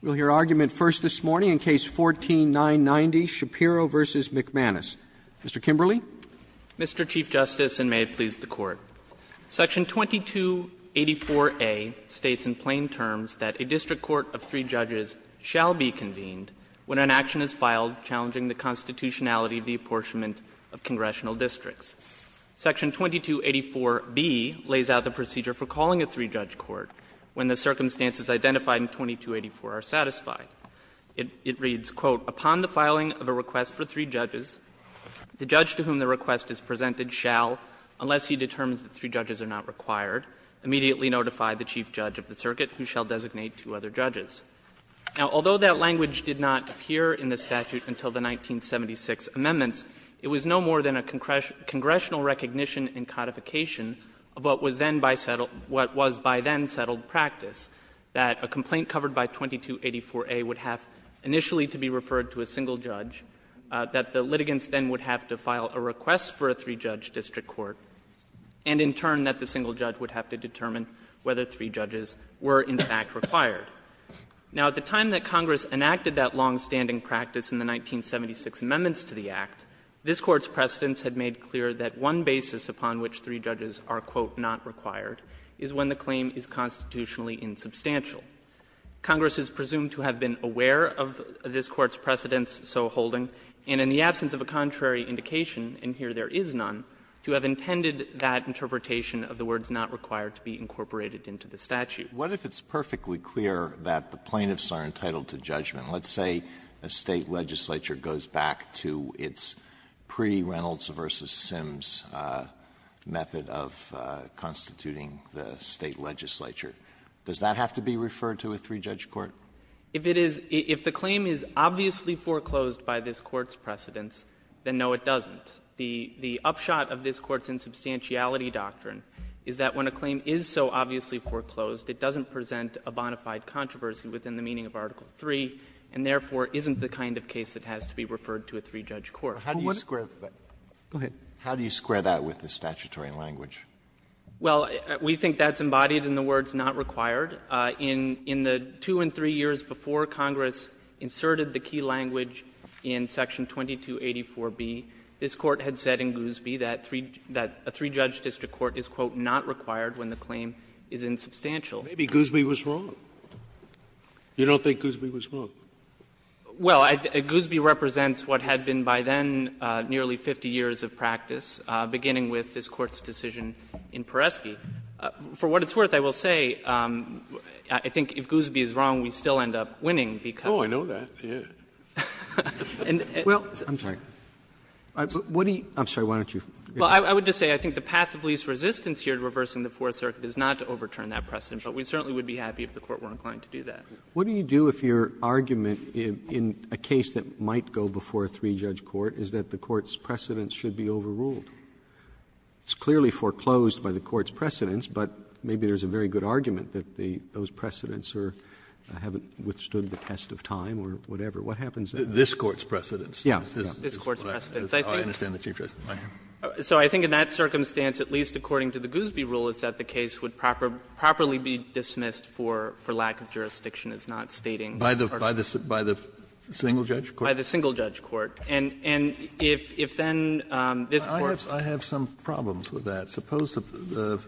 We will hear argument first this morning in Case 14-990, Shapiro v. McManus. Mr. Kimberley. Mr. Chief Justice, and may it please the Court. Section 2284a states in plain terms that a district court of three judges shall be convened when an action is filed challenging the constitutionality of the apportionment of congressional districts. Section 2284b lays out the procedure for calling a three-judge court when the circumstances identified in 2284 are satisfied. It reads, quote, Upon the filing of a request for three judges, the judge to whom the request is presented shall, unless he determines that three judges are not required, immediately notify the chief judge of the circuit, who shall designate two other judges. Now, although that language did not appear in the statute until the 1976 amendments, it was no more than a congressional recognition and codification of what was then by settled practice, that a complaint covered by 2284a would have initially to be referred to a single judge, that the litigants then would have to file a request for a three-judge district court, and in turn that the single judge would have to determine whether three judges were in fact required. Now, at the time that Congress enacted that longstanding practice in the 1976 amendments to the Act, this Court's precedents had made clear that one basis upon which three judges are required is when the claim is constitutionally insubstantial. Congress is presumed to have been aware of this Court's precedents, so holding, and in the absence of a contrary indication, and here there is none, to have intended that interpretation of the words not required to be incorporated into the statute. Alitoso, what if it's perfectly clear that the plaintiffs are entitled to judgment? Let's say a State legislature goes back to its pre-Reynolds v. Sims method of constituting the State legislature. Does that have to be referred to a three-judge court? If it is — if the claim is obviously foreclosed by this Court's precedents, then no, it doesn't. The upshot of this Court's insubstantiality doctrine is that when a claim is so obviously foreclosed, it doesn't present a bona fide controversy within the meaning of Article III, and therefore isn't the kind of case that has to be referred to a three-judge court. How do you square that with the statutory language? Well, we think that's embodied in the words not required. In the two and three years before Congress inserted the key language in section 2284b, this Court had said in Goosby that a three-judge district court is, quote, not required when the claim is insubstantial. Maybe Goosby was wrong. You don't think Goosby was wrong? Well, Goosby represents what had been by then nearly 50 years of practice, beginning with this Court's decision in Peresky. For what it's worth, I will say, I think if Goosby is wrong, we still end up winning because of it. Oh, I know that, yes. Well, I'm sorry. What do you — I'm sorry, why don't you go ahead. Well, I would just say I think the path of least resistance here to reversing the Fourth Circuit is not to overturn that precedent, but we certainly would be happy if the Court weren't going to do that. What do you do if your argument in a case that might go before a three-judge court is that the Court's precedents should be overruled? It's clearly foreclosed by the Court's precedents, but maybe there's a very good argument that those precedents haven't withstood the test of time or whatever. What happens then? This Court's precedents? Yes. This Court's precedents. I understand the Chief Justice. So I think in that circumstance, at least according to the Goosby rule, is that the case would properly be dismissed for lack of jurisdiction. It's not stating. By the single-judge court? By the single-judge court. And if then this Court's ---- Kennedy, I have some problems with that. Suppose the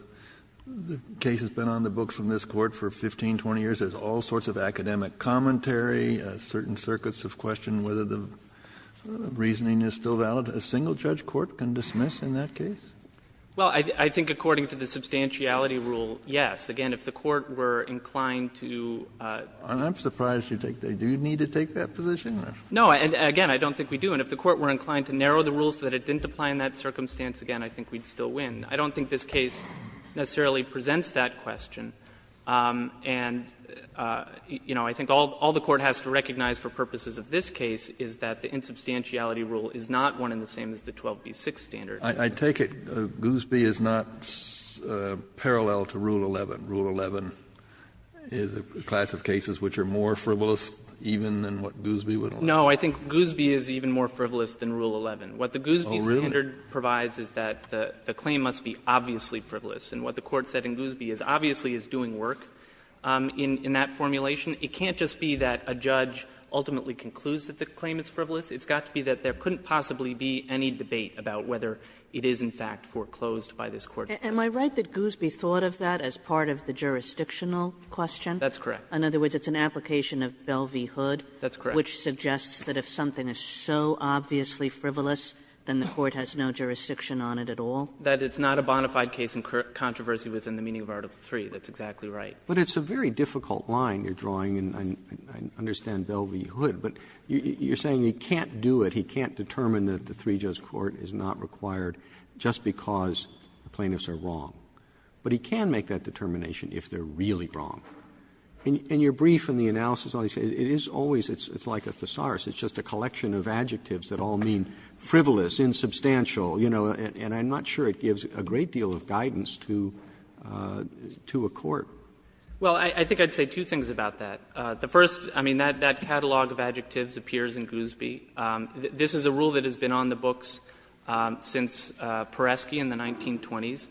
case has been on the books from this Court for 15, 20 years. There's all sorts of academic commentary. Certain circuits have questioned whether the reasoning is still valid. A single-judge court can dismiss in that case? Well, I think according to the substantiality rule, yes. Again, if the Court were inclined to ---- I'm surprised you think they do need to take that position. No, and again, I don't think we do. And if the Court were inclined to narrow the rules so that it didn't apply in that circumstance again, I think we'd still win. I don't think this case necessarily presents that question. And, you know, I think all the Court has to recognize for purposes of this case is that the insubstantiality rule is not one and the same as the 12b-6 standard. Kennedy, I take it Goosby is not parallel to Rule 11. Rule 11 is a class of cases which are more frivolous even than what Goosby would have said? No, I think Goosby is even more frivolous than Rule 11. What the Goosby standard provides is that the claim must be obviously frivolous. And what the Court said in Goosby is obviously is doing work in that formulation. It can't just be that a judge ultimately concludes that the claim is frivolous. It's got to be that there couldn't possibly be any debate about whether it is in fact foreclosed by this Court. Am I right that Goosby thought of that as part of the jurisdictional question? That's correct. In other words, it's an application of Belle v. Hood? That's correct. Which suggests that if something is so obviously frivolous, then the Court has no jurisdiction on it at all? That it's not a bona fide case in controversy within the meaning of Article III. That's exactly right. But it's a very difficult line you're drawing, and I understand Belle v. Hood. But you're saying he can't do it, he can't determine that the three-judge court is not required just because the plaintiffs are wrong. But he can make that determination if they're really wrong. In your brief and the analysis, it is always, it's like a thesaurus. It's just a collection of adjectives that all mean frivolous, insubstantial, you know, and I'm not sure it gives a great deal of guidance to a court. Well, I think I'd say two things about that. The first, I mean, that catalog of adjectives appears in Goosby. This is a rule that has been on the books since Peresky in the 1920s.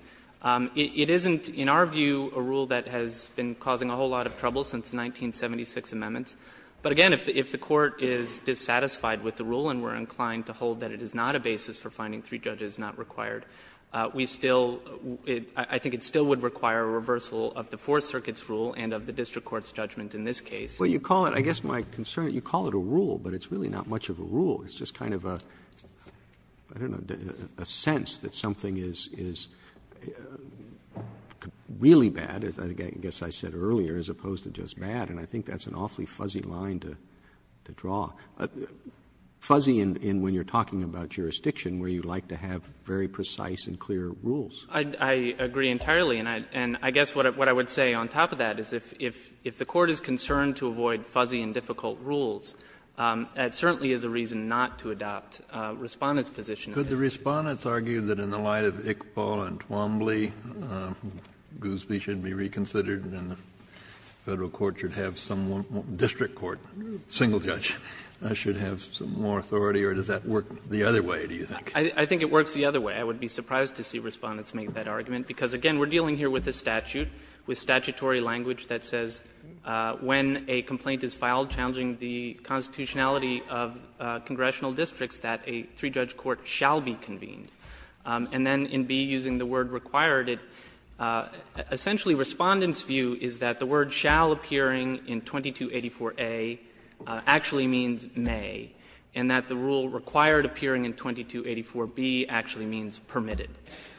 It isn't, in our view, a rule that has been causing a whole lot of trouble since the 1976 amendments. But again, if the Court is dissatisfied with the rule and we're inclined to hold that it is not a basis for finding three judges not required, we still, I think it still would require a reversal of the Fourth Circuit's rule and of the district court's judgment in this case. Roberts Well, you call it, I guess my concern, you call it a rule, but it's really not much of a rule. It's just kind of a, I don't know, a sense that something is really bad, as I guess I said earlier, as opposed to just bad. And I think that's an awfully fuzzy line to draw, fuzzy in when you're talking about jurisdiction where you like to have very precise and clear rules. I agree entirely. And I guess what I would say on top of that is if the Court is concerned to avoid fuzzy and difficult rules, that certainly is a reason not to adopt Respondent's position. Kennedy Could the Respondents argue that in the light of Iqbal and Twombly, Goosby should be reconsidered and the Federal court should have some district court, single judge, should have some more authority, or does that work the other way, do you think? Roberts I think it works the other way. I would be surprised to see Respondents make that argument, because, again, we're dealing here with a statute, with statutory language that says when a complaint is filed challenging the constitutionality of congressional districts, that a three-judge court shall be convened. And then in B, using the word required, it essentially Respondent's view is that the word shall appearing in 2284a actually means may, and that the rule required appearing in 2284b actually means permitted,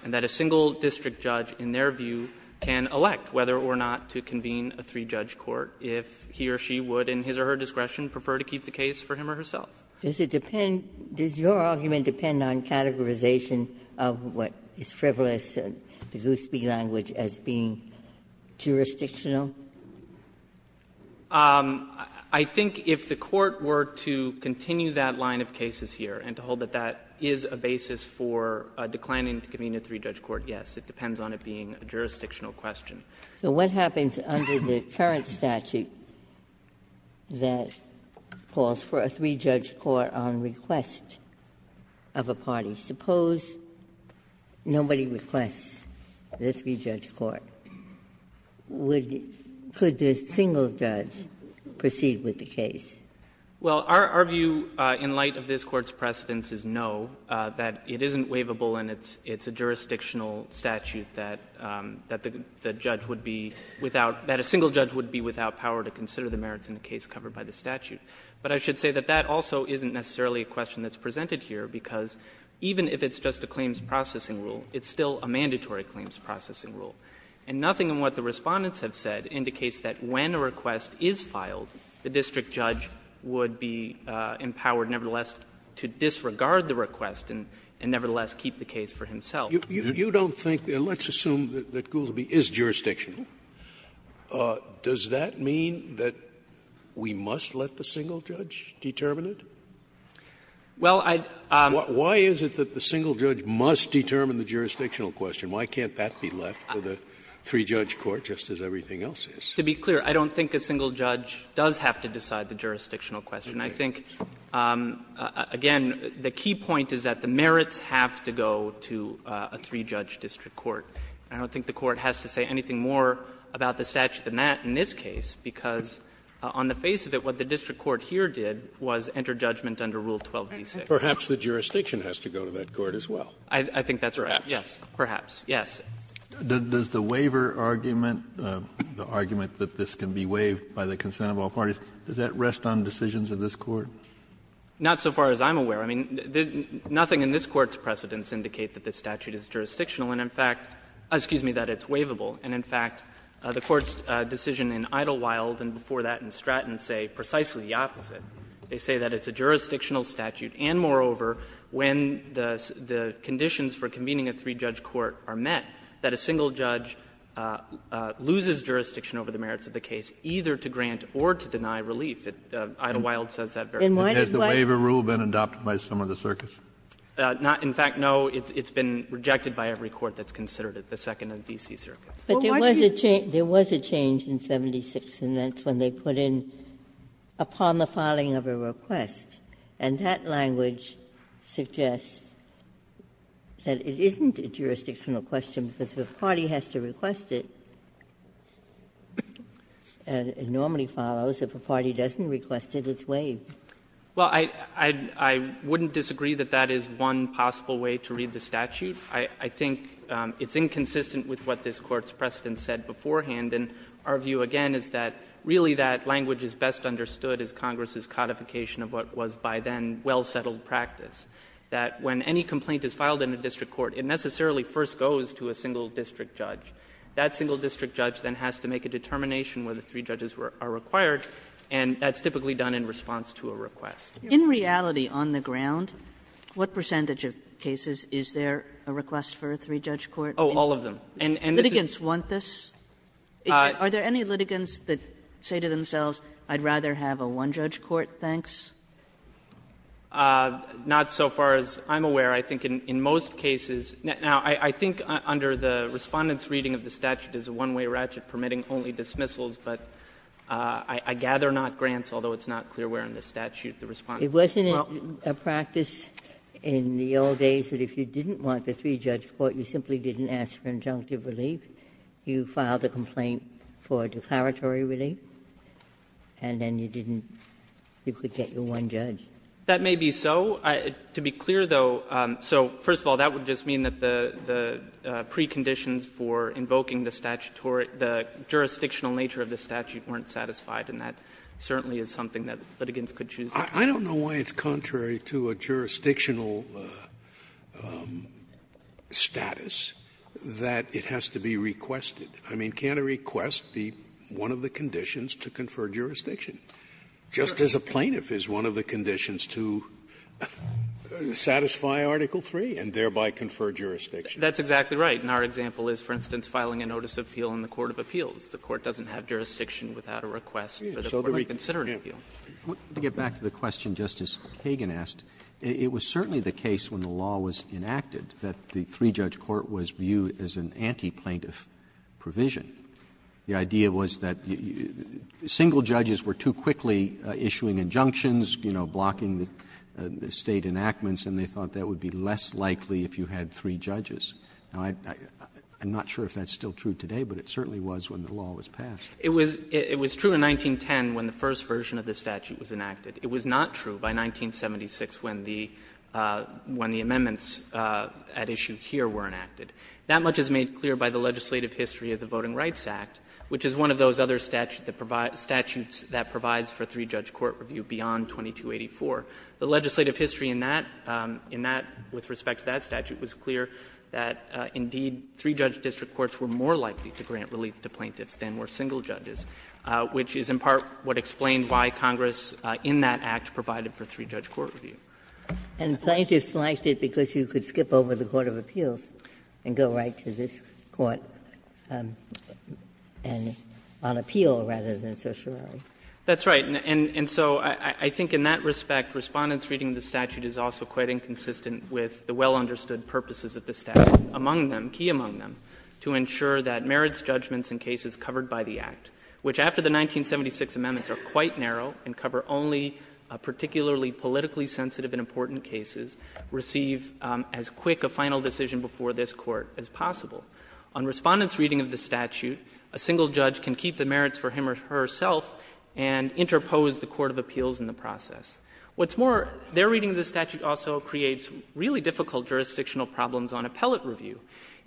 and that a single district judge, in their view, can elect whether or not to convene a three-judge court if he or she would, in his or her discretion, prefer to keep the case for him or herself. Ginsburg Does your argument depend on categorization of what is frivolous, the Goosby language, as being jurisdictional? Roberts I think if the Court were to continue that line of cases here and to hold that that is a basis for declining to convene a three-judge court, yes. It depends on it being a jurisdictional question. Ginsburg So what happens under the current statute that calls for a three-judge court on request of a party? Suppose nobody requests the three-judge court. Would the — could the single judge proceed with the case? Roberts Well, our view in light of this Court's precedence is no, that it isn't waivable and it's a jurisdictional statute that the judge would be without — that a single judge would be without power to consider the merits in a case covered by the statute. But I should say that that also isn't necessarily a question that's presented here, because even if it's just a claims processing rule, it's still a mandatory claims processing rule. And nothing in what the Respondents have said indicates that when a request is filed, the district judge would be empowered nevertheless to disregard the request and nevertheless keep the case for himself. Scalia You don't think — let's assume that Goosby is jurisdictional. Does that mean that we must let the single judge determine it? Roberts Well, I'd — Scalia Why is it that the single judge must determine the jurisdictional question? Why can't that be left for the three-judge court, just as everything else is? Roberts To be clear, I don't think a single judge does have to decide the jurisdictional question. I think, again, the key point is that the merits have to go to a three-judge district court. I don't think the Court has to say anything more about the statute than that in this case, because on the face of it, what the district court here did was enter judgment under Rule 12d6. Scalia Perhaps the jurisdiction has to go to that court as well. Roberts I think that's right. Scalia Perhaps. Roberts Yes. Kennedy Does the waiver argument, the argument that this can be waived by the consent of all parties, does that rest on decisions of this Court? Roberts Not so far as I'm aware. I mean, nothing in this Court's precedents indicate that this statute is jurisdictional. And, in fact, excuse me, that it's waivable. And, in fact, the Court's decision in Idyllwild and before that in Stratton say precisely the opposite. They say that it's a jurisdictional statute, and, moreover, when the conditions for convening a three-judge court are met, that a single judge loses jurisdiction over the merits of the case, either to grant or to deny relief. Idyllwild says that very clearly. Kennedy Has the waiver rule been adopted by some of the circuits? Roberts Not — in fact, no. It's been rejected by every court that's considered it, the second and D.C. circuits. Ginsburg But there was a change in 76, and that's when they put in, upon the filing of a request. And that language suggests that it isn't a jurisdictional question, because if a party has to request it, and it normally follows, if a party doesn't request it, it's waived. Well, I wouldn't disagree that that is one possible way to read the statute. I think it's inconsistent with what this Court's precedent said beforehand. And our view, again, is that really that language is best understood as Congress's codification of what was by then well-settled practice, that when any complaint is filed in a district court, it necessarily first goes to a single district judge. That single district judge then has to make a determination whether three judges are required, and that's typically done in response to a request. Kagan In reality, on the ground, what percentage of cases is there a request for a three-judge court? Oh, all of them. And this is the case. Litigants want this? Are there any litigants that say to themselves, I'd rather have a one-judge court, thanks? Not so far as I'm aware. I think in most cases — now, I think under the Respondent's reading of the statute is a one-way ratchet permitting only dismissals, but I gather not Grant's, although it's not clear where in the statute the Respondent is. Well — Ginsburg It wasn't a practice in the old days that if you didn't want the three-judge court, you simply didn't ask for injunctive relief, you filed a complaint for declaratory relief, and then you didn't — you could get your one judge. That may be so. To be clear, though, so first of all, that would just mean that the preconditions for invoking the jurisdictional nature of the statute weren't satisfied, and that certainly is something that litigants could choose not to do. Scalia I don't know why it's contrary to a jurisdictional status that it has to be requested. I mean, can't a request be one of the conditions to confer jurisdiction, just as a plaintiff is one of the conditions to satisfy Article III and thereby confer jurisdiction? That's exactly right. And our example is, for instance, filing a notice of appeal in the court of appeals. The court doesn't have jurisdiction without a request for the court to reconsider an appeal. Roberts To get back to the question Justice Kagan asked, it was certainly the case when the law was enacted that the three-judge court was viewed as an anti-plaintiff provision. The idea was that single judges were too quickly issuing injunctions, you know, blocking the State enactments, and they thought that would be less likely if you had three judges. Now, I'm not sure if that's still true today, but it certainly was when the law was passed. Jay It was true in 1910 when the first version of the statute was enacted. It was not true by 1976 when the amendments at issue here were enacted. That much is made clear by the legislative history of the Voting Rights Act, which is one of those other statutes that provides for three-judge court review beyond 2284. The legislative history in that, in that, with respect to that statute, was clear that, indeed, three-judge district courts were more likely to grant relief to plaintiffs than were single judges, which is in part what explained why Congress in that Act provided for three-judge court review. Ginsburg And plaintiffs liked it because you could skip over the court of appeals and go right to this court and on appeal rather than social rally. Jay That's right. And so I think in that respect, Respondent's reading of the statute is also quite inconsistent with the well-understood purposes of the statute. Among them, key among them, to ensure that merits judgments in cases covered by the Act, which after the 1976 amendments are quite narrow and cover only particularly politically sensitive and important cases, receive as quick a final decision before this Court as possible. On Respondent's reading of the statute, a single judge can keep the merits for him or herself and interpose the court of appeals in the process. What's more, their reading of the statute also creates really difficult jurisdictional problems on appellate review.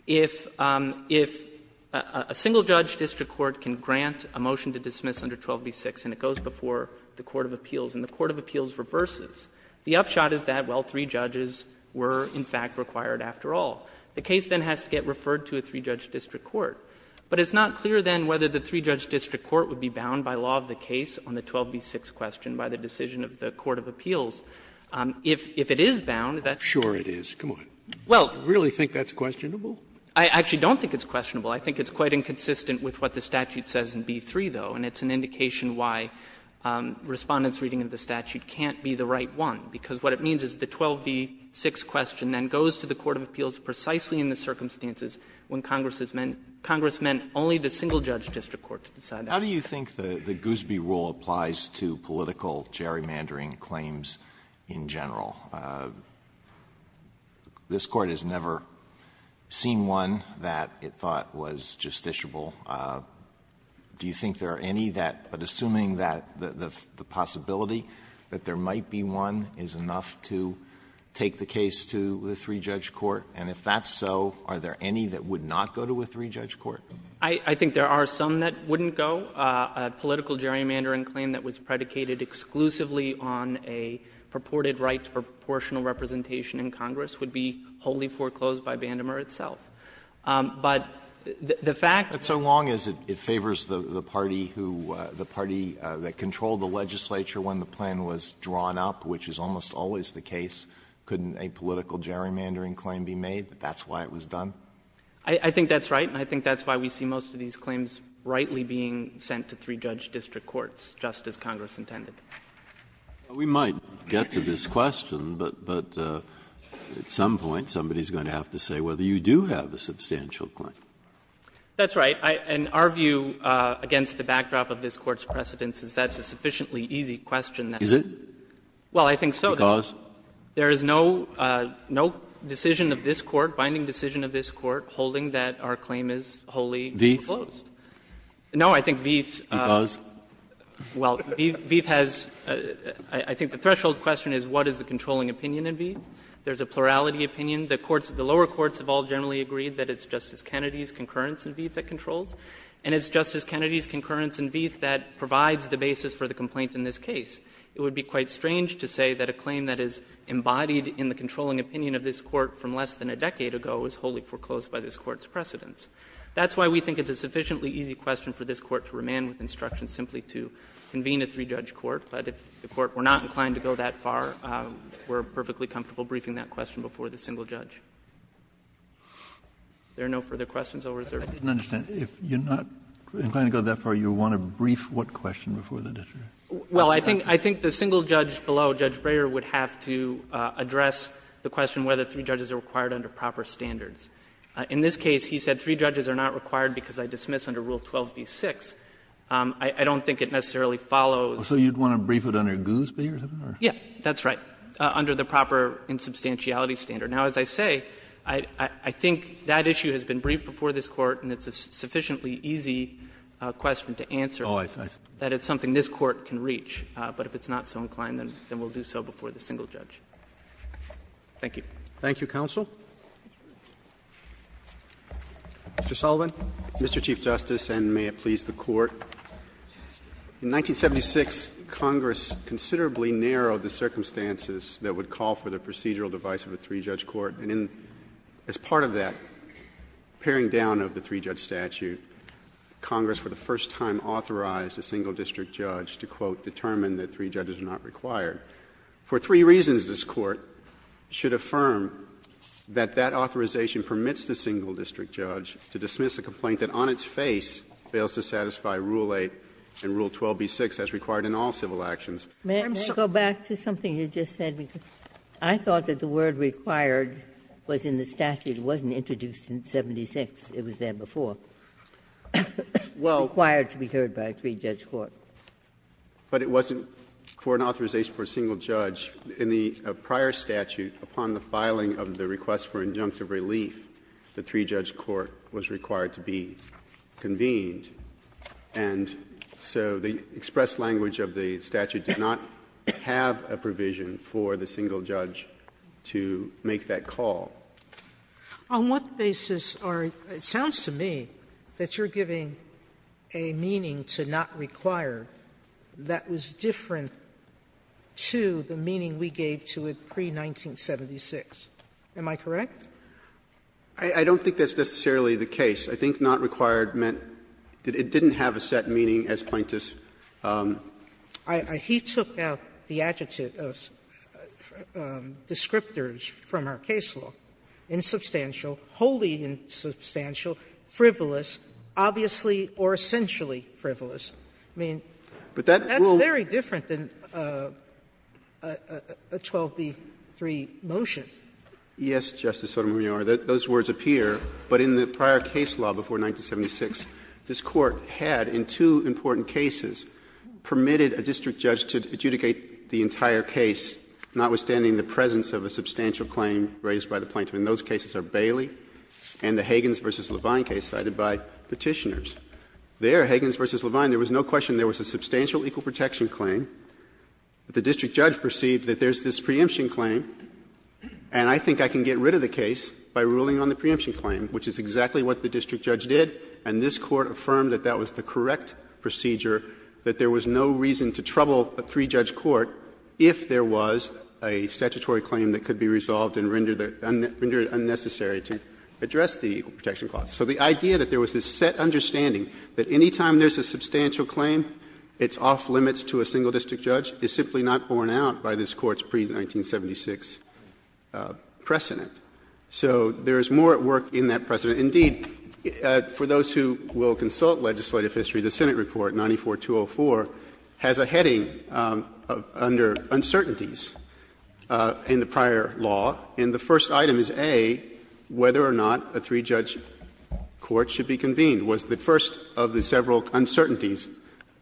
If a single-judge district court can grant a motion to dismiss under 12b-6 and it goes before the court of appeals and the court of appeals reverses, the upshot is that, well, three judges were, in fact, required after all. The case then has to get referred to a three-judge district court. But it's not clear then whether the three-judge district court would be bound by law of the case on the 12b-6 question by the decision of the court of appeals. If it is bound, that's not clear. Scaliaro, sure it is, come on. Do you really think that's questionable? I actually don't think it's questionable. I think it's quite inconsistent with what the statute says in B-3, though, and it's an indication why Respondent's reading of the statute can't be the right one, because what it means is the 12b-6 question then goes to the court of appeals precisely in the circumstances when Congress has meant, Congress meant only the single-judge district court to decide that. Alito, how do you think the Goosby rule applies to political gerrymandering claims in general? This Court has never seen one that it thought was justiciable. Do you think there are any that, but assuming that the possibility that there might be one, is enough to take the case to the three-judge court? And if that's so, are there any that would not go to a three-judge court? I think there are some that wouldn't go. A political gerrymandering claim that was predicated exclusively on a purported right to proportional representation in Congress would be wholly foreclosed by Vandemer itself. But the fact that so long as it favors the party who, the party that controlled the legislature when the plan was drawn up, which is almost always the case, couldn't a political gerrymandering claim be made, that that's why it was done? I think that's right, and I think that's why we see most of these claims rightly being sent to three-judge district courts, just as Congress intended. We might get to this question, but at some point somebody is going to have to say whether you do have a substantial claim. That's right. And our view against the backdrop of this Court's precedence is that's a sufficiently easy question. Is it? Well, I think so. Because? There is no decision of this Court, binding decision of this Court, holding that our claim is wholly foreclosed. Veith? No, I think Veith. Because? Well, Veith has — I think the threshold question is what is the controlling opinion in Veith? There's a plurality opinion. The courts, the lower courts have all generally agreed that it's Justice Kennedy's concurrence in Veith that controls, and it's Justice Kennedy's concurrence in Veith that provides the basis for the complaint in this case. It would be quite strange to say that a claim that is embodied in the controlling opinion of this Court from less than a decade ago is wholly foreclosed by this Court's precedence. That's why we think it's a sufficiently easy question for this Court to remand with instruction simply to convene a three-judge court. But if the Court were not inclined to go that far, we're perfectly comfortable briefing that question before the single judge. If there are no further questions, I'll reserve it. Kennedy. I didn't understand. If you're not inclined to go that far, you want to brief what question before the district? Well, I think the single judge below, Judge Breyer, would have to address the question whether three judges are required under proper standards. In this case, he said three judges are not required because I dismiss under Rule 12b-6. I don't think it necessarily follows. So you'd want to brief it under Goosby or something? Yeah, that's right, under the proper insubstantiality standard. Now, as I say, I think that issue has been briefed before this Court and it's a sufficiently easy question to answer, that it's something this Court can reach. But if it's not so inclined, then we'll do so before the single judge. Thank you. Thank you, counsel. Mr. Sullivan. Mr. Chief Justice, and may it please the Court. In 1976, Congress considerably narrowed the circumstances that would call for the procedural device of a three-judge court, and as part of that, paring down of the three-judge statute, Congress for the first time authorized a single district judge to, quote, determine that three judges are not required. For three reasons, this Court should affirm that that authorization permits the single district judge to dismiss a complaint that on its face fails to satisfy Rule 8 and Rule 12b-6 as required in all civil actions. I'm sorry. May I go back to something you just said? Because I thought that the word required was in the statute. It wasn't introduced in 1976. It was there before. Required to be heard by a three-judge court. Well, but it wasn't for an authorization for a single judge. In the prior statute, upon the filing of the request for injunctive relief, the three-judge court was required to be convened. And so the express language of the statute did not have a provision for the single judge to make that call. On what basis are you – it sounds to me that you're giving a meaning to not require that was different to the meaning we gave to it pre-1976. Am I correct? I don't think that's necessarily the case. I think not required meant it didn't have a set meaning as plaintiffs. He took out the adjective of descriptors from our case law. Insubstantial, wholly insubstantial, frivolous, obviously or essentially frivolous. I mean, that's very different than a 12b-3 motion. Yes, Justice Sotomayor, those words appear. But in the prior case law before 1976, this Court had in two important cases permitted a district judge to adjudicate the entire case, notwithstanding the presence of a substantial claim raised by the plaintiff. And those cases are Bailey and the Hagins v. Levine case cited by Petitioners. There, Hagins v. Levine, there was no question there was a substantial equal protection claim. The district judge perceived that there's this preemption claim, and I think I can get rid of the case by ruling on the preemption claim, which is exactly what the district judge did, and this Court affirmed that that was the correct procedure, that there was no reason to trouble a three-judge court if there was a statutory claim that could be resolved and rendered unnecessary to address the equal protection clause. So the idea that there was this set understanding that any time there's a substantial claim, it's off-limits to a single district judge is simply not borne out by this precedent. So there is more at work in that precedent. Indeed, for those who will consult legislative history, the Senate report 94204 has a heading under uncertainties in the prior law, and the first item is A, whether or not a three-judge court should be convened, was the first of the several uncertainties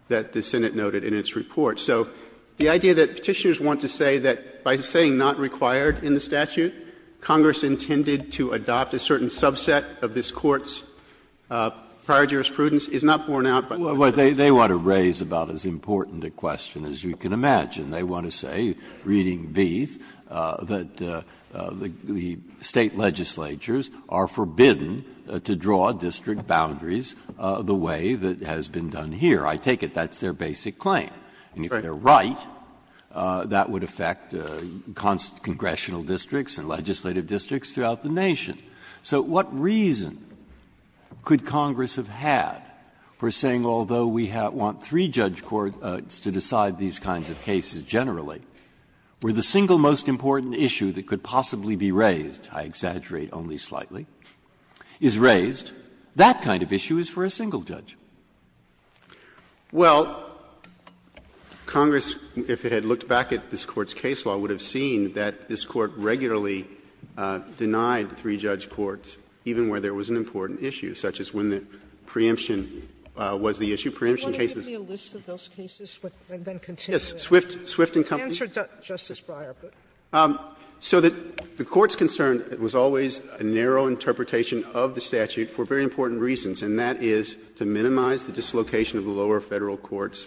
that the Senate noted in its report. So the idea that Petitioners want to say that by saying not required in the statute, Congress intended to adopt a certain subset of this Court's prior jurisprudence is not borne out by this precedent. Breyer, they want to raise about as important a question as you can imagine. They want to say, reading Beath, that the State legislatures are forbidden to draw district boundaries the way that has been done here. I take it that's their basic claim. And if they're right, that would affect congressional districts and local districts and legislative districts throughout the nation. So what reason could Congress have had for saying, although we want three-judge courts to decide these kinds of cases generally, where the single most important issue that could possibly be raised, I exaggerate only slightly, is raised, that kind of issue is for a single judge? Well, Congress, if it had looked back at this Court's case law, would have seen that this Court regularly denied three-judge courts, even where there was an important issue, such as when the preemption was the issue. Preemption cases was always a narrow interpretation of the statute for very important reasons, and that is to minimize the dislocation of the lower Federal court's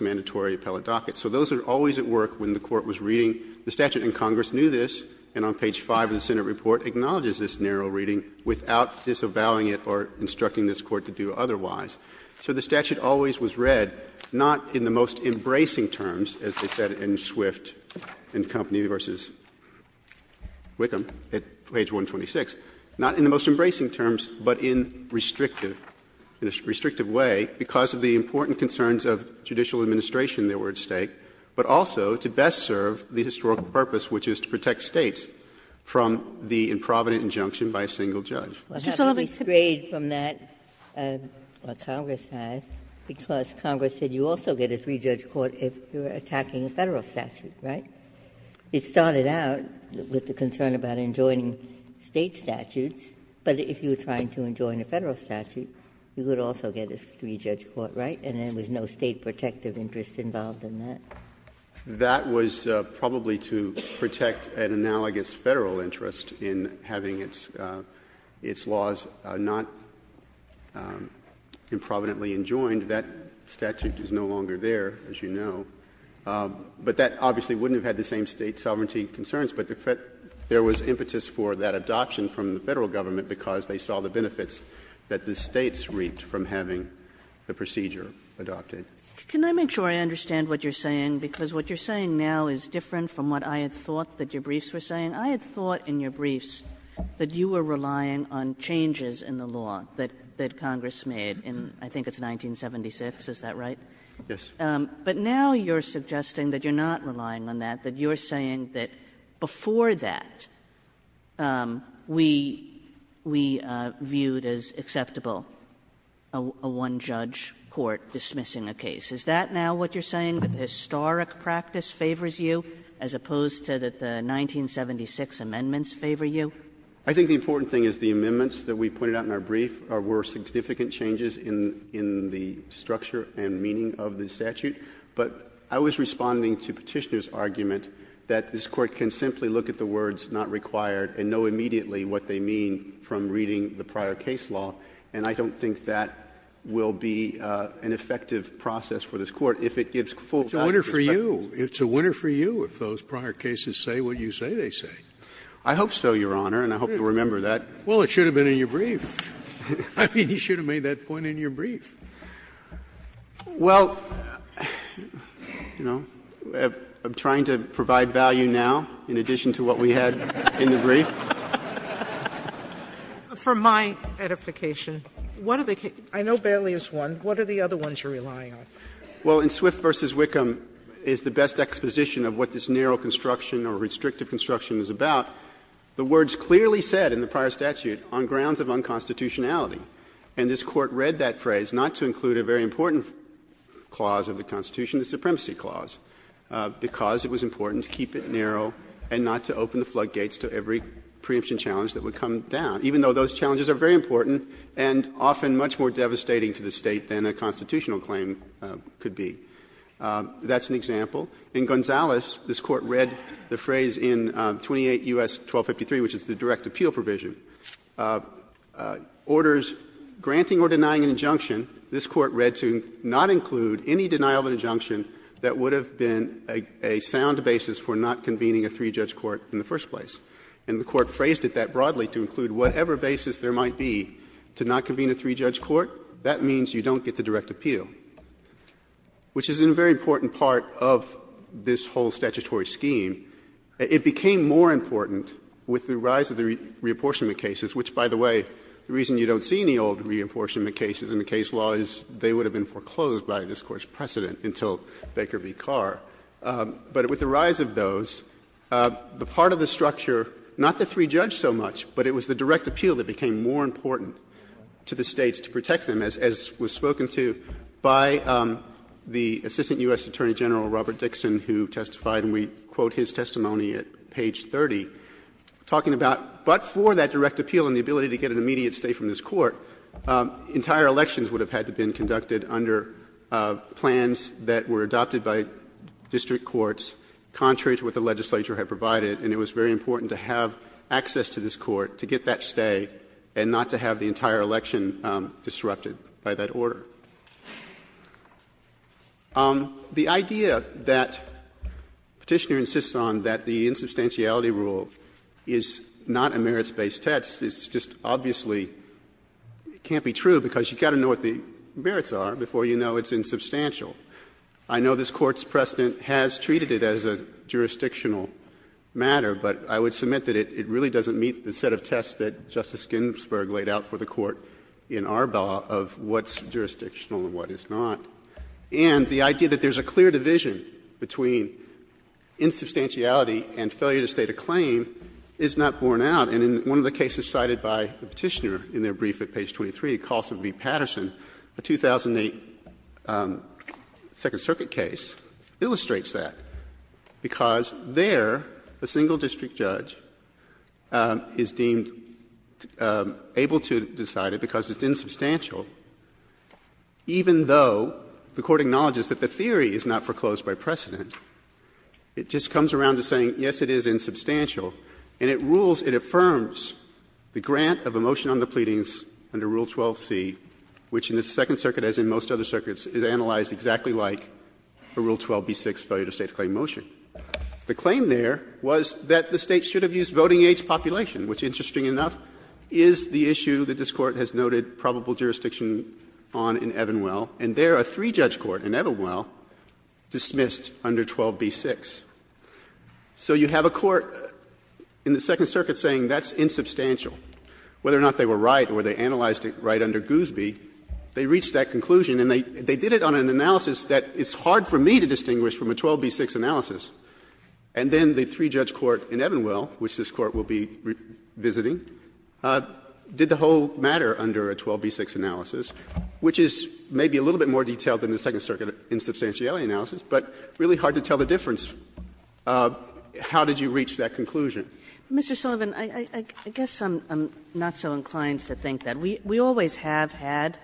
mandatory appellate docket. So those are always at work when the Court was reading. The statute in Congress knew this, and on page 5 of the Senate report acknowledges this narrow reading without disavowing it or instructing this Court to do otherwise. So the statute always was read, not in the most embracing terms, as they said in Swift and Company v. Wickham at page 126, not in the most embracing terms, but in restrictive way because of the important concerns of judicial administration that were at stake, but also to best serve the historical purpose, which is to protect States from the improvident injunction by a single judge. Ginsburg. Ginsburg. Ginsburg. We have to be strayed from that, what Congress has, because Congress said you also get a three-judge court if you're attacking a Federal statute, right? It started out with the concern about enjoining State statutes, but if you're trying to enjoin a Federal statute, you would also get a three-judge court, right? And there was no State protective interest involved in that? That was probably to protect an analogous Federal interest in having its laws not improvidently enjoined. That statute is no longer there, as you know. But that obviously wouldn't have had the same State sovereignty concerns, but there was impetus for that adoption from the Federal Government because they saw the benefits that the States reaped from having the procedure adopted. Kagan. Kagan. Can I make sure I understand what you're saying? Because what you're saying now is different from what I had thought that your briefs were saying. I had thought in your briefs that you were relying on changes in the law that Congress made in, I think it's 1976, is that right? Yes. But now you're suggesting that you're not relying on that, that you're saying that before that, we viewed as acceptable a one-judge court dismissing a case. Is that now what you're saying, that the historic practice favors you as opposed to that the 1976 amendments favor you? I think the important thing is the amendments that we pointed out in our brief were significant changes in the structure and meaning of the statute. But I was responding to Petitioner's argument that this Court can simply look at the words not required and know immediately what they mean from reading the prior case law, and I don't think that will be an effective process for this Court if it gives full time perspective. It's a winner for you. It's a winner for you if those prior cases say what you say they say. I hope so, Your Honor, and I hope you remember that. Well, it should have been in your brief. I mean, you should have made that point in your brief. Well, you know, I'm trying to provide value now in addition to what we had in the brief. For my edification, what are the cases you're relying on? Well, in Swift v. Wickham is the best exposition of what this narrow construction or restrictive construction is about. The words clearly said in the prior statute, on grounds of unconstitutionality, and this Court read that phrase not to include a very important clause of the Constitution, the supremacy clause, because it was important to keep it narrow and not to open the floodgates to every preemption challenge that would come down, even though those challenges are very important and often much more devastating to the State than a constitutional claim could be. That's an example. In Gonzales, this Court read the phrase in 28 U.S. 1253, which is the direct appeal provision, orders granting or denying an injunction, this Court read to not include any denial of an injunction that would have been a sound basis for not convening a three-judge court in the first place. And the Court phrased it that broadly, to include whatever basis there might be to not convene a three-judge court. That means you don't get the direct appeal, which is a very important part of this whole statutory scheme. It became more important with the rise of the reapportionment cases, which, by the way, the reason you don't see any old reapportionment cases in the case law is they would have been foreclosed by this Court's precedent until Baker v. Carr. But with the rise of those, the part of the structure, not the three-judge so much, but it was the direct appeal that became more important to the States to protect them, as was spoken to by the Assistant U.S. Attorney General Robert Dixon, who testified, and we quote his testimony at page 30, talking about, but for that direct appeal and the ability to get an immediate stay from this Court, entire elections would have had to be conducted under plans that were adopted by district courts, contrary to what the legislature had provided, and it was very important to have access to this Court to get that stay and not to have the entire election disrupted by that order. The idea that Petitioner insists on that the insubstantiality rule is not a merits-based test is just obviously can't be true, because you've got to know what the merits are before you know it's insubstantial. I know this Court's precedent has treated it as a jurisdictional matter, but I would submit that it really doesn't meet the set of tests that Justice Ginsburg laid out for the Court in our bill of what's jurisdictional and what is not. And the idea that there's a clear division between insubstantiality and failure to state a claim is not borne out. And in one of the cases cited by Petitioner in their brief at page 23, Colson v. Patterson, a 2008 Second Circuit case, illustrates that, because there a single district judge is deemed able to decide it because it's insubstantial, even though the Court acknowledges that the theory is not foreclosed by precedent, it just comes around to saying, yes, it is insubstantial, and it rules, it affirms the grant of a motion on the pleadings under Rule 12c, which in the Second Circuit, as in most other circuits, is analyzed exactly like a Rule 12b-6 failure to state a claim motion. The claim there was that the State should have used voting age population, which, interesting enough, is the issue that this Court has noted probable jurisdiction on in Evanwell, and there a three-judge court in Evanwell dismissed under 12b-6. So you have a court in the Second Circuit saying that's insubstantial. Whether or not they were right or they analyzed it right under Goosby, they reached that conclusion, and they did it on an analysis that it's hard for me to distinguish from a 12b-6 analysis. And then the three-judge court in Evanwell, which this Court will be visiting, did the whole matter under a 12b-6 analysis, which is maybe a little bit more detailed than the Second Circuit insubstantiality analysis, but really hard to tell the difference of how did you reach that conclusion. Kagan, I guess I'm not so inclined to think that. We always have had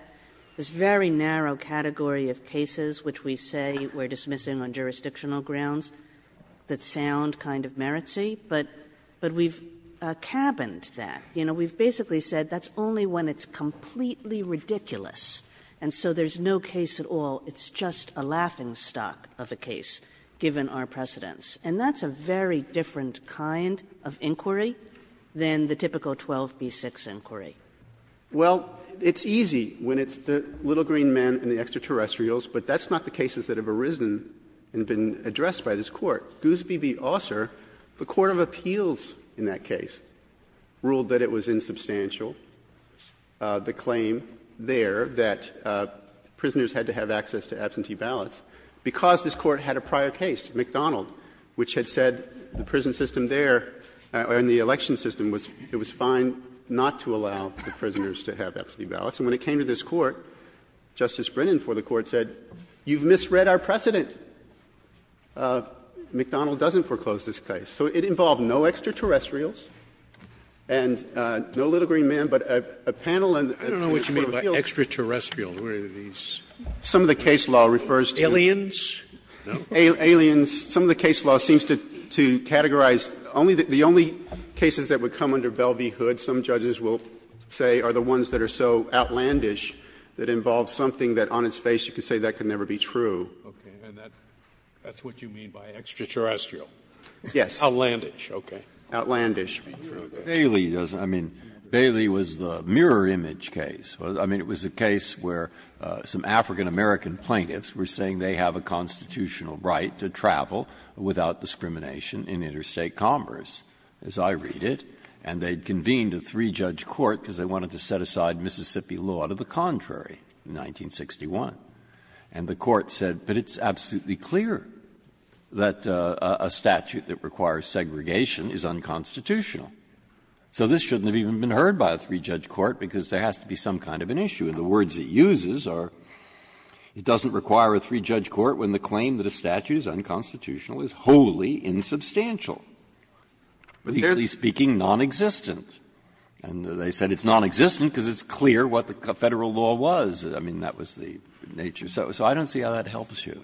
this very narrow category of cases which we say we're dismissing on jurisdictional grounds that sound kind of meritsy, but we've cabined that. You know, we've basically said that's only when it's completely ridiculous, and so there's no case at all. It's just a laughingstock of a case, given our precedence. And that's a very different kind of inquiry than the typical 12b-6 inquiry. Well, it's easy when it's the little green men and the extraterrestrials, but that's not the cases that have arisen and been addressed by this Court. Goosby v. Osser, the court of appeals in that case, ruled that it was insubstantial, the claim there that prisoners had to have access to absentee ballots, because this Court had a prior case, McDonald, which had said the prison system there, or in McDonald, the prisoners to have absentee ballots. And when it came to this Court, Justice Brennan for the Court said, you've misread our precedent. McDonald doesn't foreclose this case. So it involved no extraterrestrials and no little green men, but a panel and a panel of appeals. Scalia. I don't know what you mean by extraterrestrial. What are these? Some of the case law refers to aliens. Some of the case law seems to categorize the only cases that would come under Bell v. Hood, some judges will say, are the ones that are so outlandish that involve something that on its face you could say that could never be true. And that's what you mean by extraterrestrial? Yes. Outlandish, okay. Outlandish. Breyer. Bailey doesn't. I mean, Bailey was the mirror image case. I mean, it was a case where some African-American plaintiffs were saying they have a constitutional right to travel without discrimination in interstate commerce, as I read it, and they had convened a three-judge court because they wanted to set aside Mississippi law to the contrary in 1961. And the court said, but it's absolutely clear that a statute that requires segregation is unconstitutional. So this shouldn't have even been heard by a three-judge court because there has to be some kind of an issue. And the words it uses are, it doesn't require a three-judge court when the claim that a statute is unconstitutional is wholly insubstantial. But there they're speaking non-existent. And they said it's non-existent because it's clear what the Federal law was. I mean, that was the nature. So I don't see how that helps you.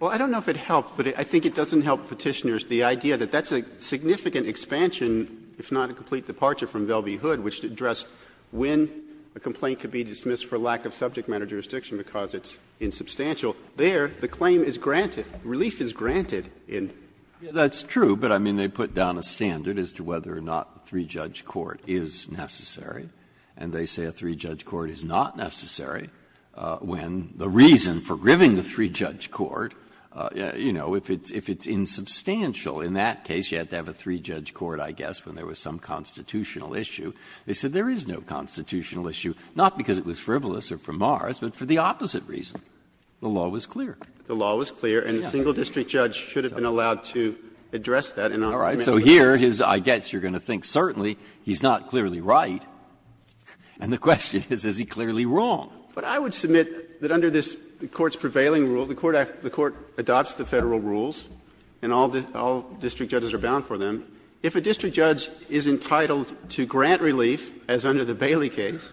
Well, I don't know if it helps, but I think it doesn't help Petitioners the idea that that's a significant expansion, if not a complete departure from Velvey Hood, which addressed when a complaint could be dismissed for lack of subject matter jurisdiction because it's insubstantial. There, the claim is granted. Relief is granted in. Breyer. That's true, but I mean, they put down a standard as to whether or not a three-judge court is necessary. And they say a three-judge court is not necessary when the reason for gripping the three-judge court, you know, if it's insubstantial in that case, you have to have a three-judge court, I guess, when there was some constitutional issue. They said there is no constitutional issue, not because it was frivolous or from Mars, but for the opposite reason. The law was clear. The law was clear, and a single district judge should have been allowed to address that and augment it. Breyer. So here, I guess you're going to think, certainly, he's not clearly right, and the question is, is he clearly wrong? But I would submit that under this Court's prevailing rule, the Court adopts the Federal rules, and all district judges are bound for them. If a district judge is entitled to grant relief, as under the Bailey case,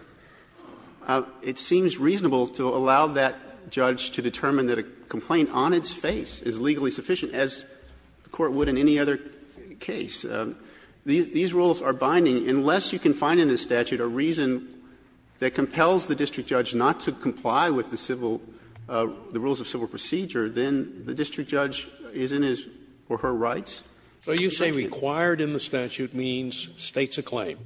it seems reasonable to allow that judge to determine that a complaint on its face is legally sufficient, as the Court would in any other case. These rules are binding. Unless you can find in the statute a reason that compels the district judge not to comply with the civil rules of civil procedure, then the district judge is in his or her rights. So you say required in the statute means States a claim.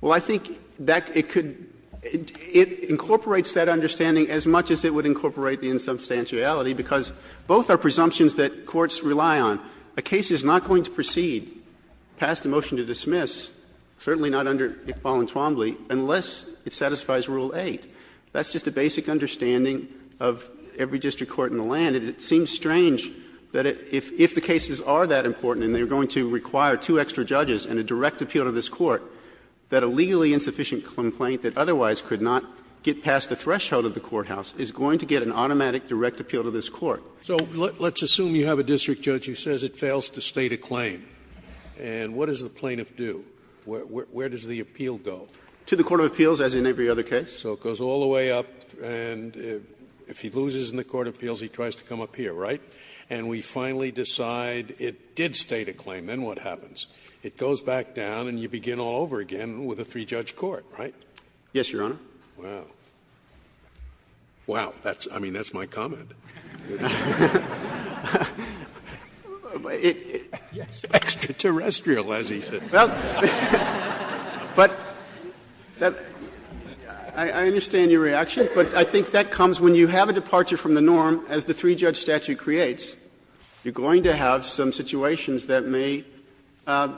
Well, I think that it could — it incorporates that understanding as much as it would incorporate the insubstantiality, because both are presumptions that courts rely on. A case is not going to proceed, pass the motion to dismiss, certainly not under Iqbal and Twombly, unless it satisfies Rule 8. That's just a basic understanding of every district court in the land. And it seems strange that if the cases are that important and they are going to require two extra judges and a direct appeal to this Court, that a legally insufficient complaint that otherwise could not get past the threshold of the courthouse is going to get an automatic direct appeal to this Court. So let's assume you have a district judge who says it fails to State a claim. And what does the plaintiff do? Where does the appeal go? To the court of appeals, as in every other case. So it goes all the way up, and if he loses in the court of appeals, he tries to come up here, right? And we finally decide it did State a claim. Then what happens? It goes back down and you begin all over again with a three-judge court, right? Yes, Your Honor. Wow. Wow, that's, I mean, that's my comment. It's extraterrestrial, as he said. Well, but I understand your reaction, but I think that comes when you have a departure from the norm, as the three-judge statute creates, you're going to have some situations that may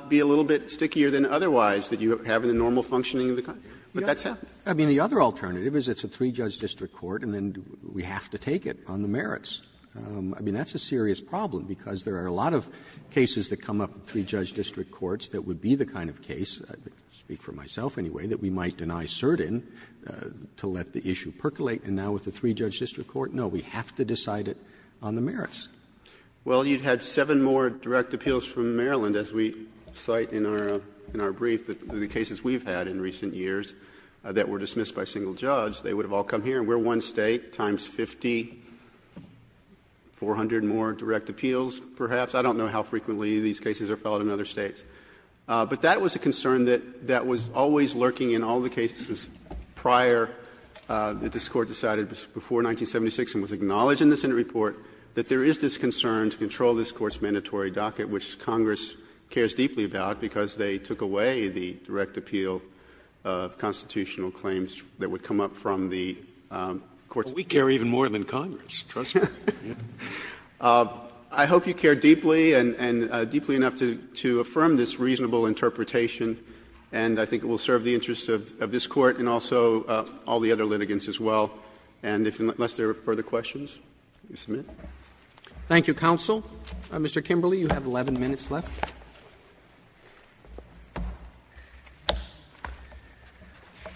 be a little bit stickier than otherwise that you have in the normal functioning of the country. But that's it. I mean, the other alternative is it's a three-judge district court and then we have to take it on the merits. I mean, that's a serious problem, because there are a lot of cases that come up in three-judge district courts that would be the kind of case, I speak for myself anyway, that we might deny cert in to let the issue percolate. And now with the three-judge district court, no, we have to decide it on the merits. Well, you'd have seven more direct appeals from Maryland, as we cite in our brief, the cases we've had in recent years that were dismissed by a single judge. They would have all come here, and we're one State, times 50, 400 more direct appeals, perhaps. I don't know how frequently these cases are filed in other States. But that was a concern that was always lurking in all the cases prior that this Court decided before 1976 and was acknowledged in the Senate report, that there is this concern to control this Court's mandatory docket, which Congress cares deeply about, because they took away the direct appeal of constitutional claims that would come up from the Court's mandate. Scalia, we care even more than Congress, trust me. I hope you care deeply, and deeply enough to affirm this reasonable interpretation. And I think it will serve the interests of this Court and also all the other litigants as well. And unless there are further questions, you submit. Roberts. Thank you, counsel. Mr. Kimberley, you have 11 minutes left.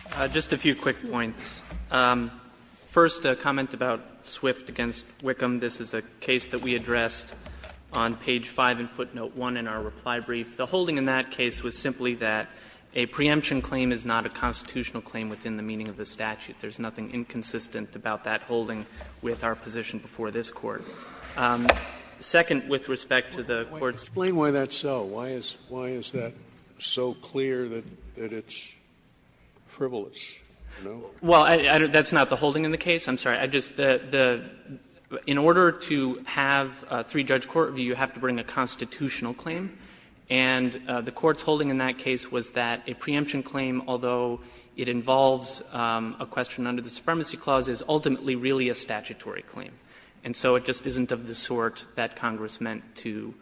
Kimberley, just a few quick points. First, a comment about Swift v. Wickham. This is a case that we addressed on page 5 in footnote 1 in our reply brief. The holding in that case was simply that a preemption claim is not a constitutional claim within the meaning of the statute. There is nothing inconsistent about that holding with our position before this Court. Second, with respect to the Court's question. Scalia, explain why that's so. Why is that so clear that it's frivolous? Well, that's not the holding in the case. I'm sorry. I just the – in order to have a three-judge court, you have to bring a constitutional claim. And the Court's holding in that case was that a preemption claim, although it involves a question under the Supremacy Clause, is ultimately really a statutory claim. And so it just isn't of the sort that Congress meant to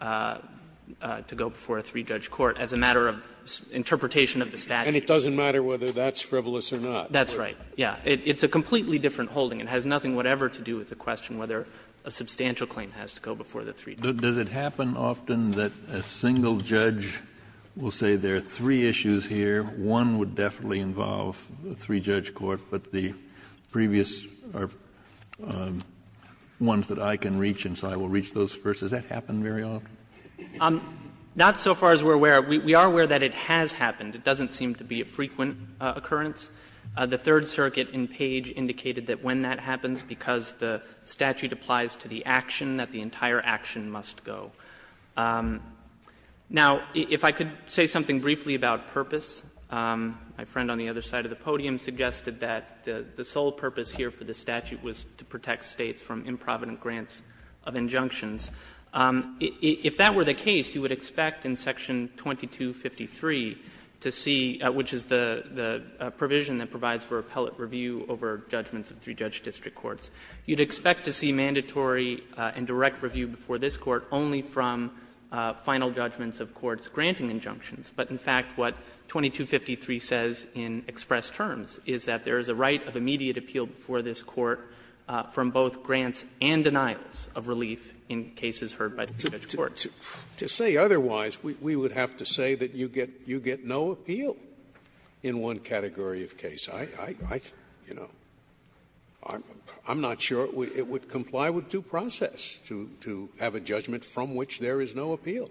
go before a three-judge court as a matter of interpretation of the statute. And it doesn't matter whether that's frivolous or not. That's right. Yeah. It's a completely different holding. It has nothing whatever to do with the question whether a substantial claim has to go before the three-judge court. Does it happen often that a single judge will say there are three issues here, one would definitely involve a three-judge court, but the previous are ones that I can reach and so I will reach those first? Does that happen very often? Not so far as we're aware. We are aware that it has happened. It doesn't seem to be a frequent occurrence. The Third Circuit in Page indicated that when that happens, because the statute applies to the action, that the entire action must go. Now, if I could say something briefly about purpose, my friend on the other side of the podium suggested that the sole purpose here for the statute was to protect States from improvident grants of injunctions. If that were the case, you would expect in Section 2253 to see, which is the provision that provides for appellate review over judgments of three-judge district courts, you'd expect to see mandatory and direct review before this Court only from final judgments of courts granting injunctions. But in fact, what 2253 says in express terms is that there is a right of immediate appeal before this Court from both grants and denials of relief in cases heard by the three-judge court. Scalia. To say otherwise, we would have to say that you get no appeal in one category of case. I'm not sure it would comply with due process to have a judgment from which there is no appeal.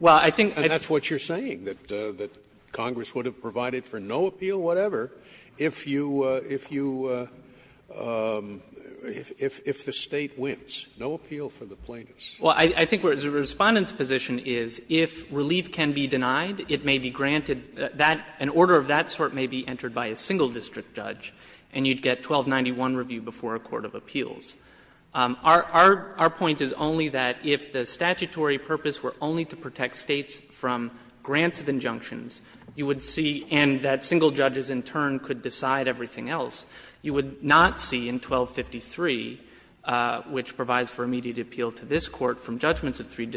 And that's what you're saying, that Congress would have provided for no appeal, whatever, if you – if the State wins. No appeal for the plaintiffs. Well, I think the Respondent's position is, if relief can be denied, it may be granted that an order of that sort may be entered by a single district judge, and you'd get 1291 review before a court of appeals. Our point is only that if the statutory purpose were only to protect States from grants of injunctions, you would see, and that single judges in turn could decide everything else, you would not see in 1253, which provides for immediate appeal to this Court from judgments of three-judge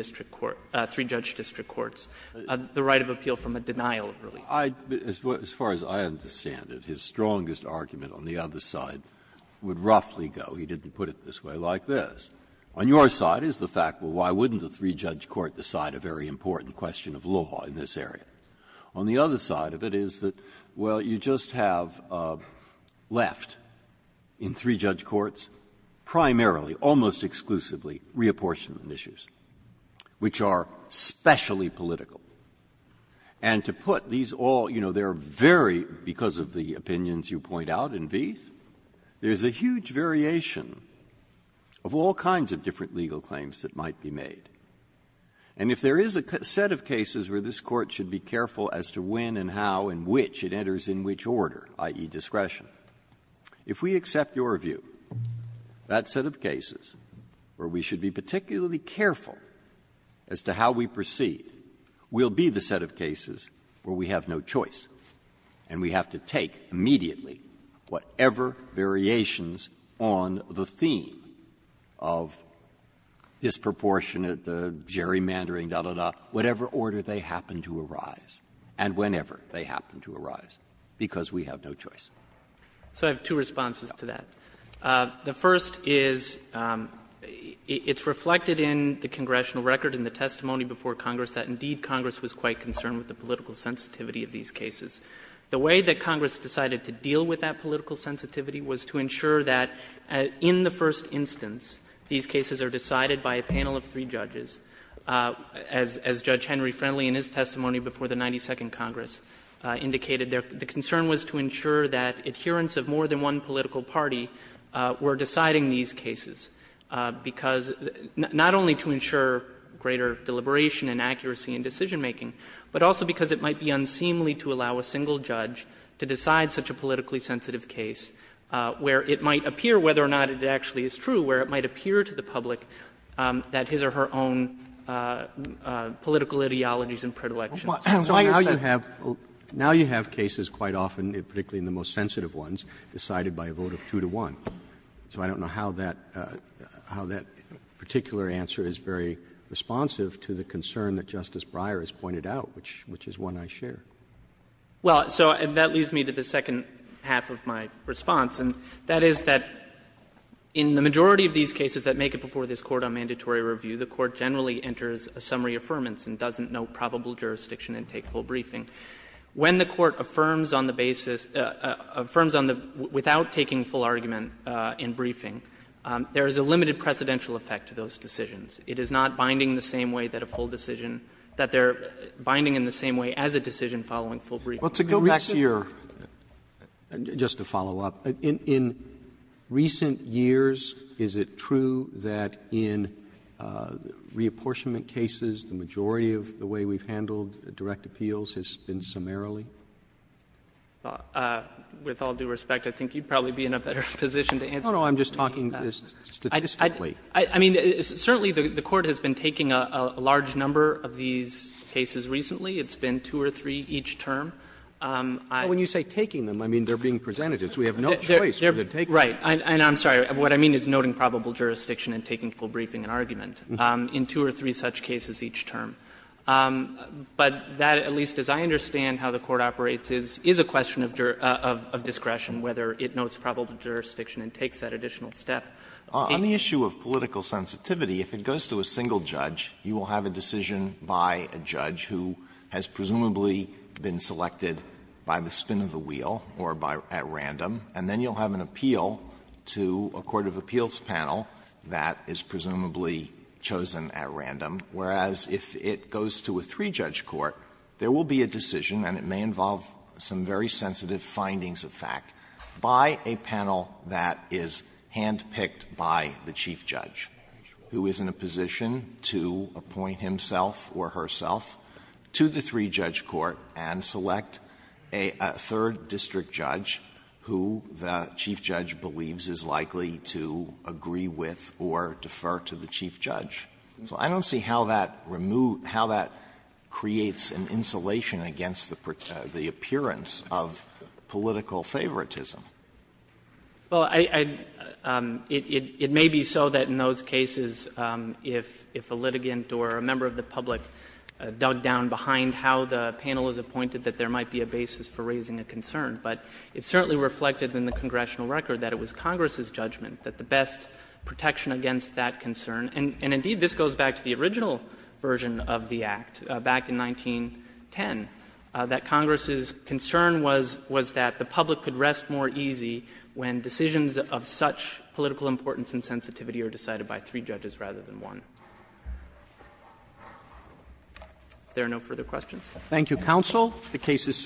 district courts, the right of appeal from a denial of relief. Breyer. As far as I understand it, his strongest argument on the other side would roughly go, he didn't put it this way, like this. On your side is the fact, well, why wouldn't a three-judge court decide a very important question of law in this area? On the other side of it is that, well, you just have left in three-judge courts primarily, almost exclusively, reapportionment issues, which are specially political. And to put these all, you know, they are very, because of the opinions you point out in Vieth, there is a huge variation of all kinds of different legal claims that might be made. And if there is a set of cases where this Court should be careful as to when and how and which it enters in which order, i.e. discretion, if we accept your view, that set of cases where we should be particularly careful as to how we proceed, will be the set of cases where we have no choice and we have to take immediately whatever variations on the theme of disproportionate, the gerrymandering, da, da, da, whatever order they happen to arise, and whenever they happen to arise, because we have no choice. So I have two responses to that. The first is, it's reflected in the congressional record in the testimony before Congress that, indeed, Congress was quite concerned with the political sensitivity of these cases. The way that Congress decided to deal with that political sensitivity was to ensure that, in the first instance, these cases are decided by a panel of three judges. As Judge Henry Friendly, in his testimony before the 92nd Congress, indicated, the concern was to ensure that adherents of more than one political party were deciding these cases, because not only to ensure greater deliberation and accuracy in decision making, but also because it might be unseemly to allow a single judge to decide such a politically sensitive case where it might appear, whether or not it actually is true, where it might appear to the public that his or her own political ideologies and predilections. So now you have cases quite often, particularly in the most sensitive ones, decided by a vote of two to one. So I don't know how that particular answer is very responsive to the concern that Justice Breyer has pointed out, which is one I share. Well, so that leads me to the second half of my response, and that is that in the majority of these cases that make it before this Court on mandatory review, the Court generally enters a summary affirmance and doesn't know probable jurisdiction and take full briefing. When the Court affirms on the basis of the basis, affirms on the basis, without taking full argument in briefing, there is a limited precedential effect to those decisions. It is not binding the same way that a full decision, that they are binding in the same way as a decision following full briefing. Roberts, just to follow up, in recent years, is it true that in reapportionment cases, the majority of the way we have handled direct appeals has been summarily? Saharsky, with all due respect, I think you would probably be in a better position to answer that. Roberts, no, no, I'm just talking statistically. Saharsky, I mean, certainly the Court has been taking a large number of these cases recently. It's been two or three each term. Roberts, but when you say taking them, I mean they are being presented. We have no choice but to take them. Saharsky, right, and I'm sorry, what I mean is noting probable jurisdiction and taking full briefing and argument. In two or three such cases each term. But that, at least as I understand how the Court operates, is a question of discretion, whether it notes probable jurisdiction and takes that additional step. Alito, on the issue of political sensitivity, if it goes to a single judge, you will have a decision by a judge who has presumably been selected by the spin of the wheel or by at random, and then you will have an appeal to a court of appeals panel that is presumably chosen at random, whereas if it goes to a three-judge court, there will be a decision, and it may involve some very sensitive findings of fact, by a panel that is hand-picked by the chief judge, who is in a position to appoint himself or herself to the three-judge court and select a third district judge who the chief judge. So I don't see how that removes, how that creates an insulation against the appearance of political favoritism. Saharsky, it may be so that in those cases, if a litigant or a member of the public dug down behind how the panel is appointed, that there might be a basis for raising a concern. But it certainly reflected in the congressional record that it was Congress's concern, and indeed, this goes back to the original version of the Act, back in 1910, that Congress's concern was that the public could rest more easy when decisions of such political importance and sensitivity are decided by three judges rather than one. If there are no further questions. Roberts. Thank you, counsel. The case is submitted.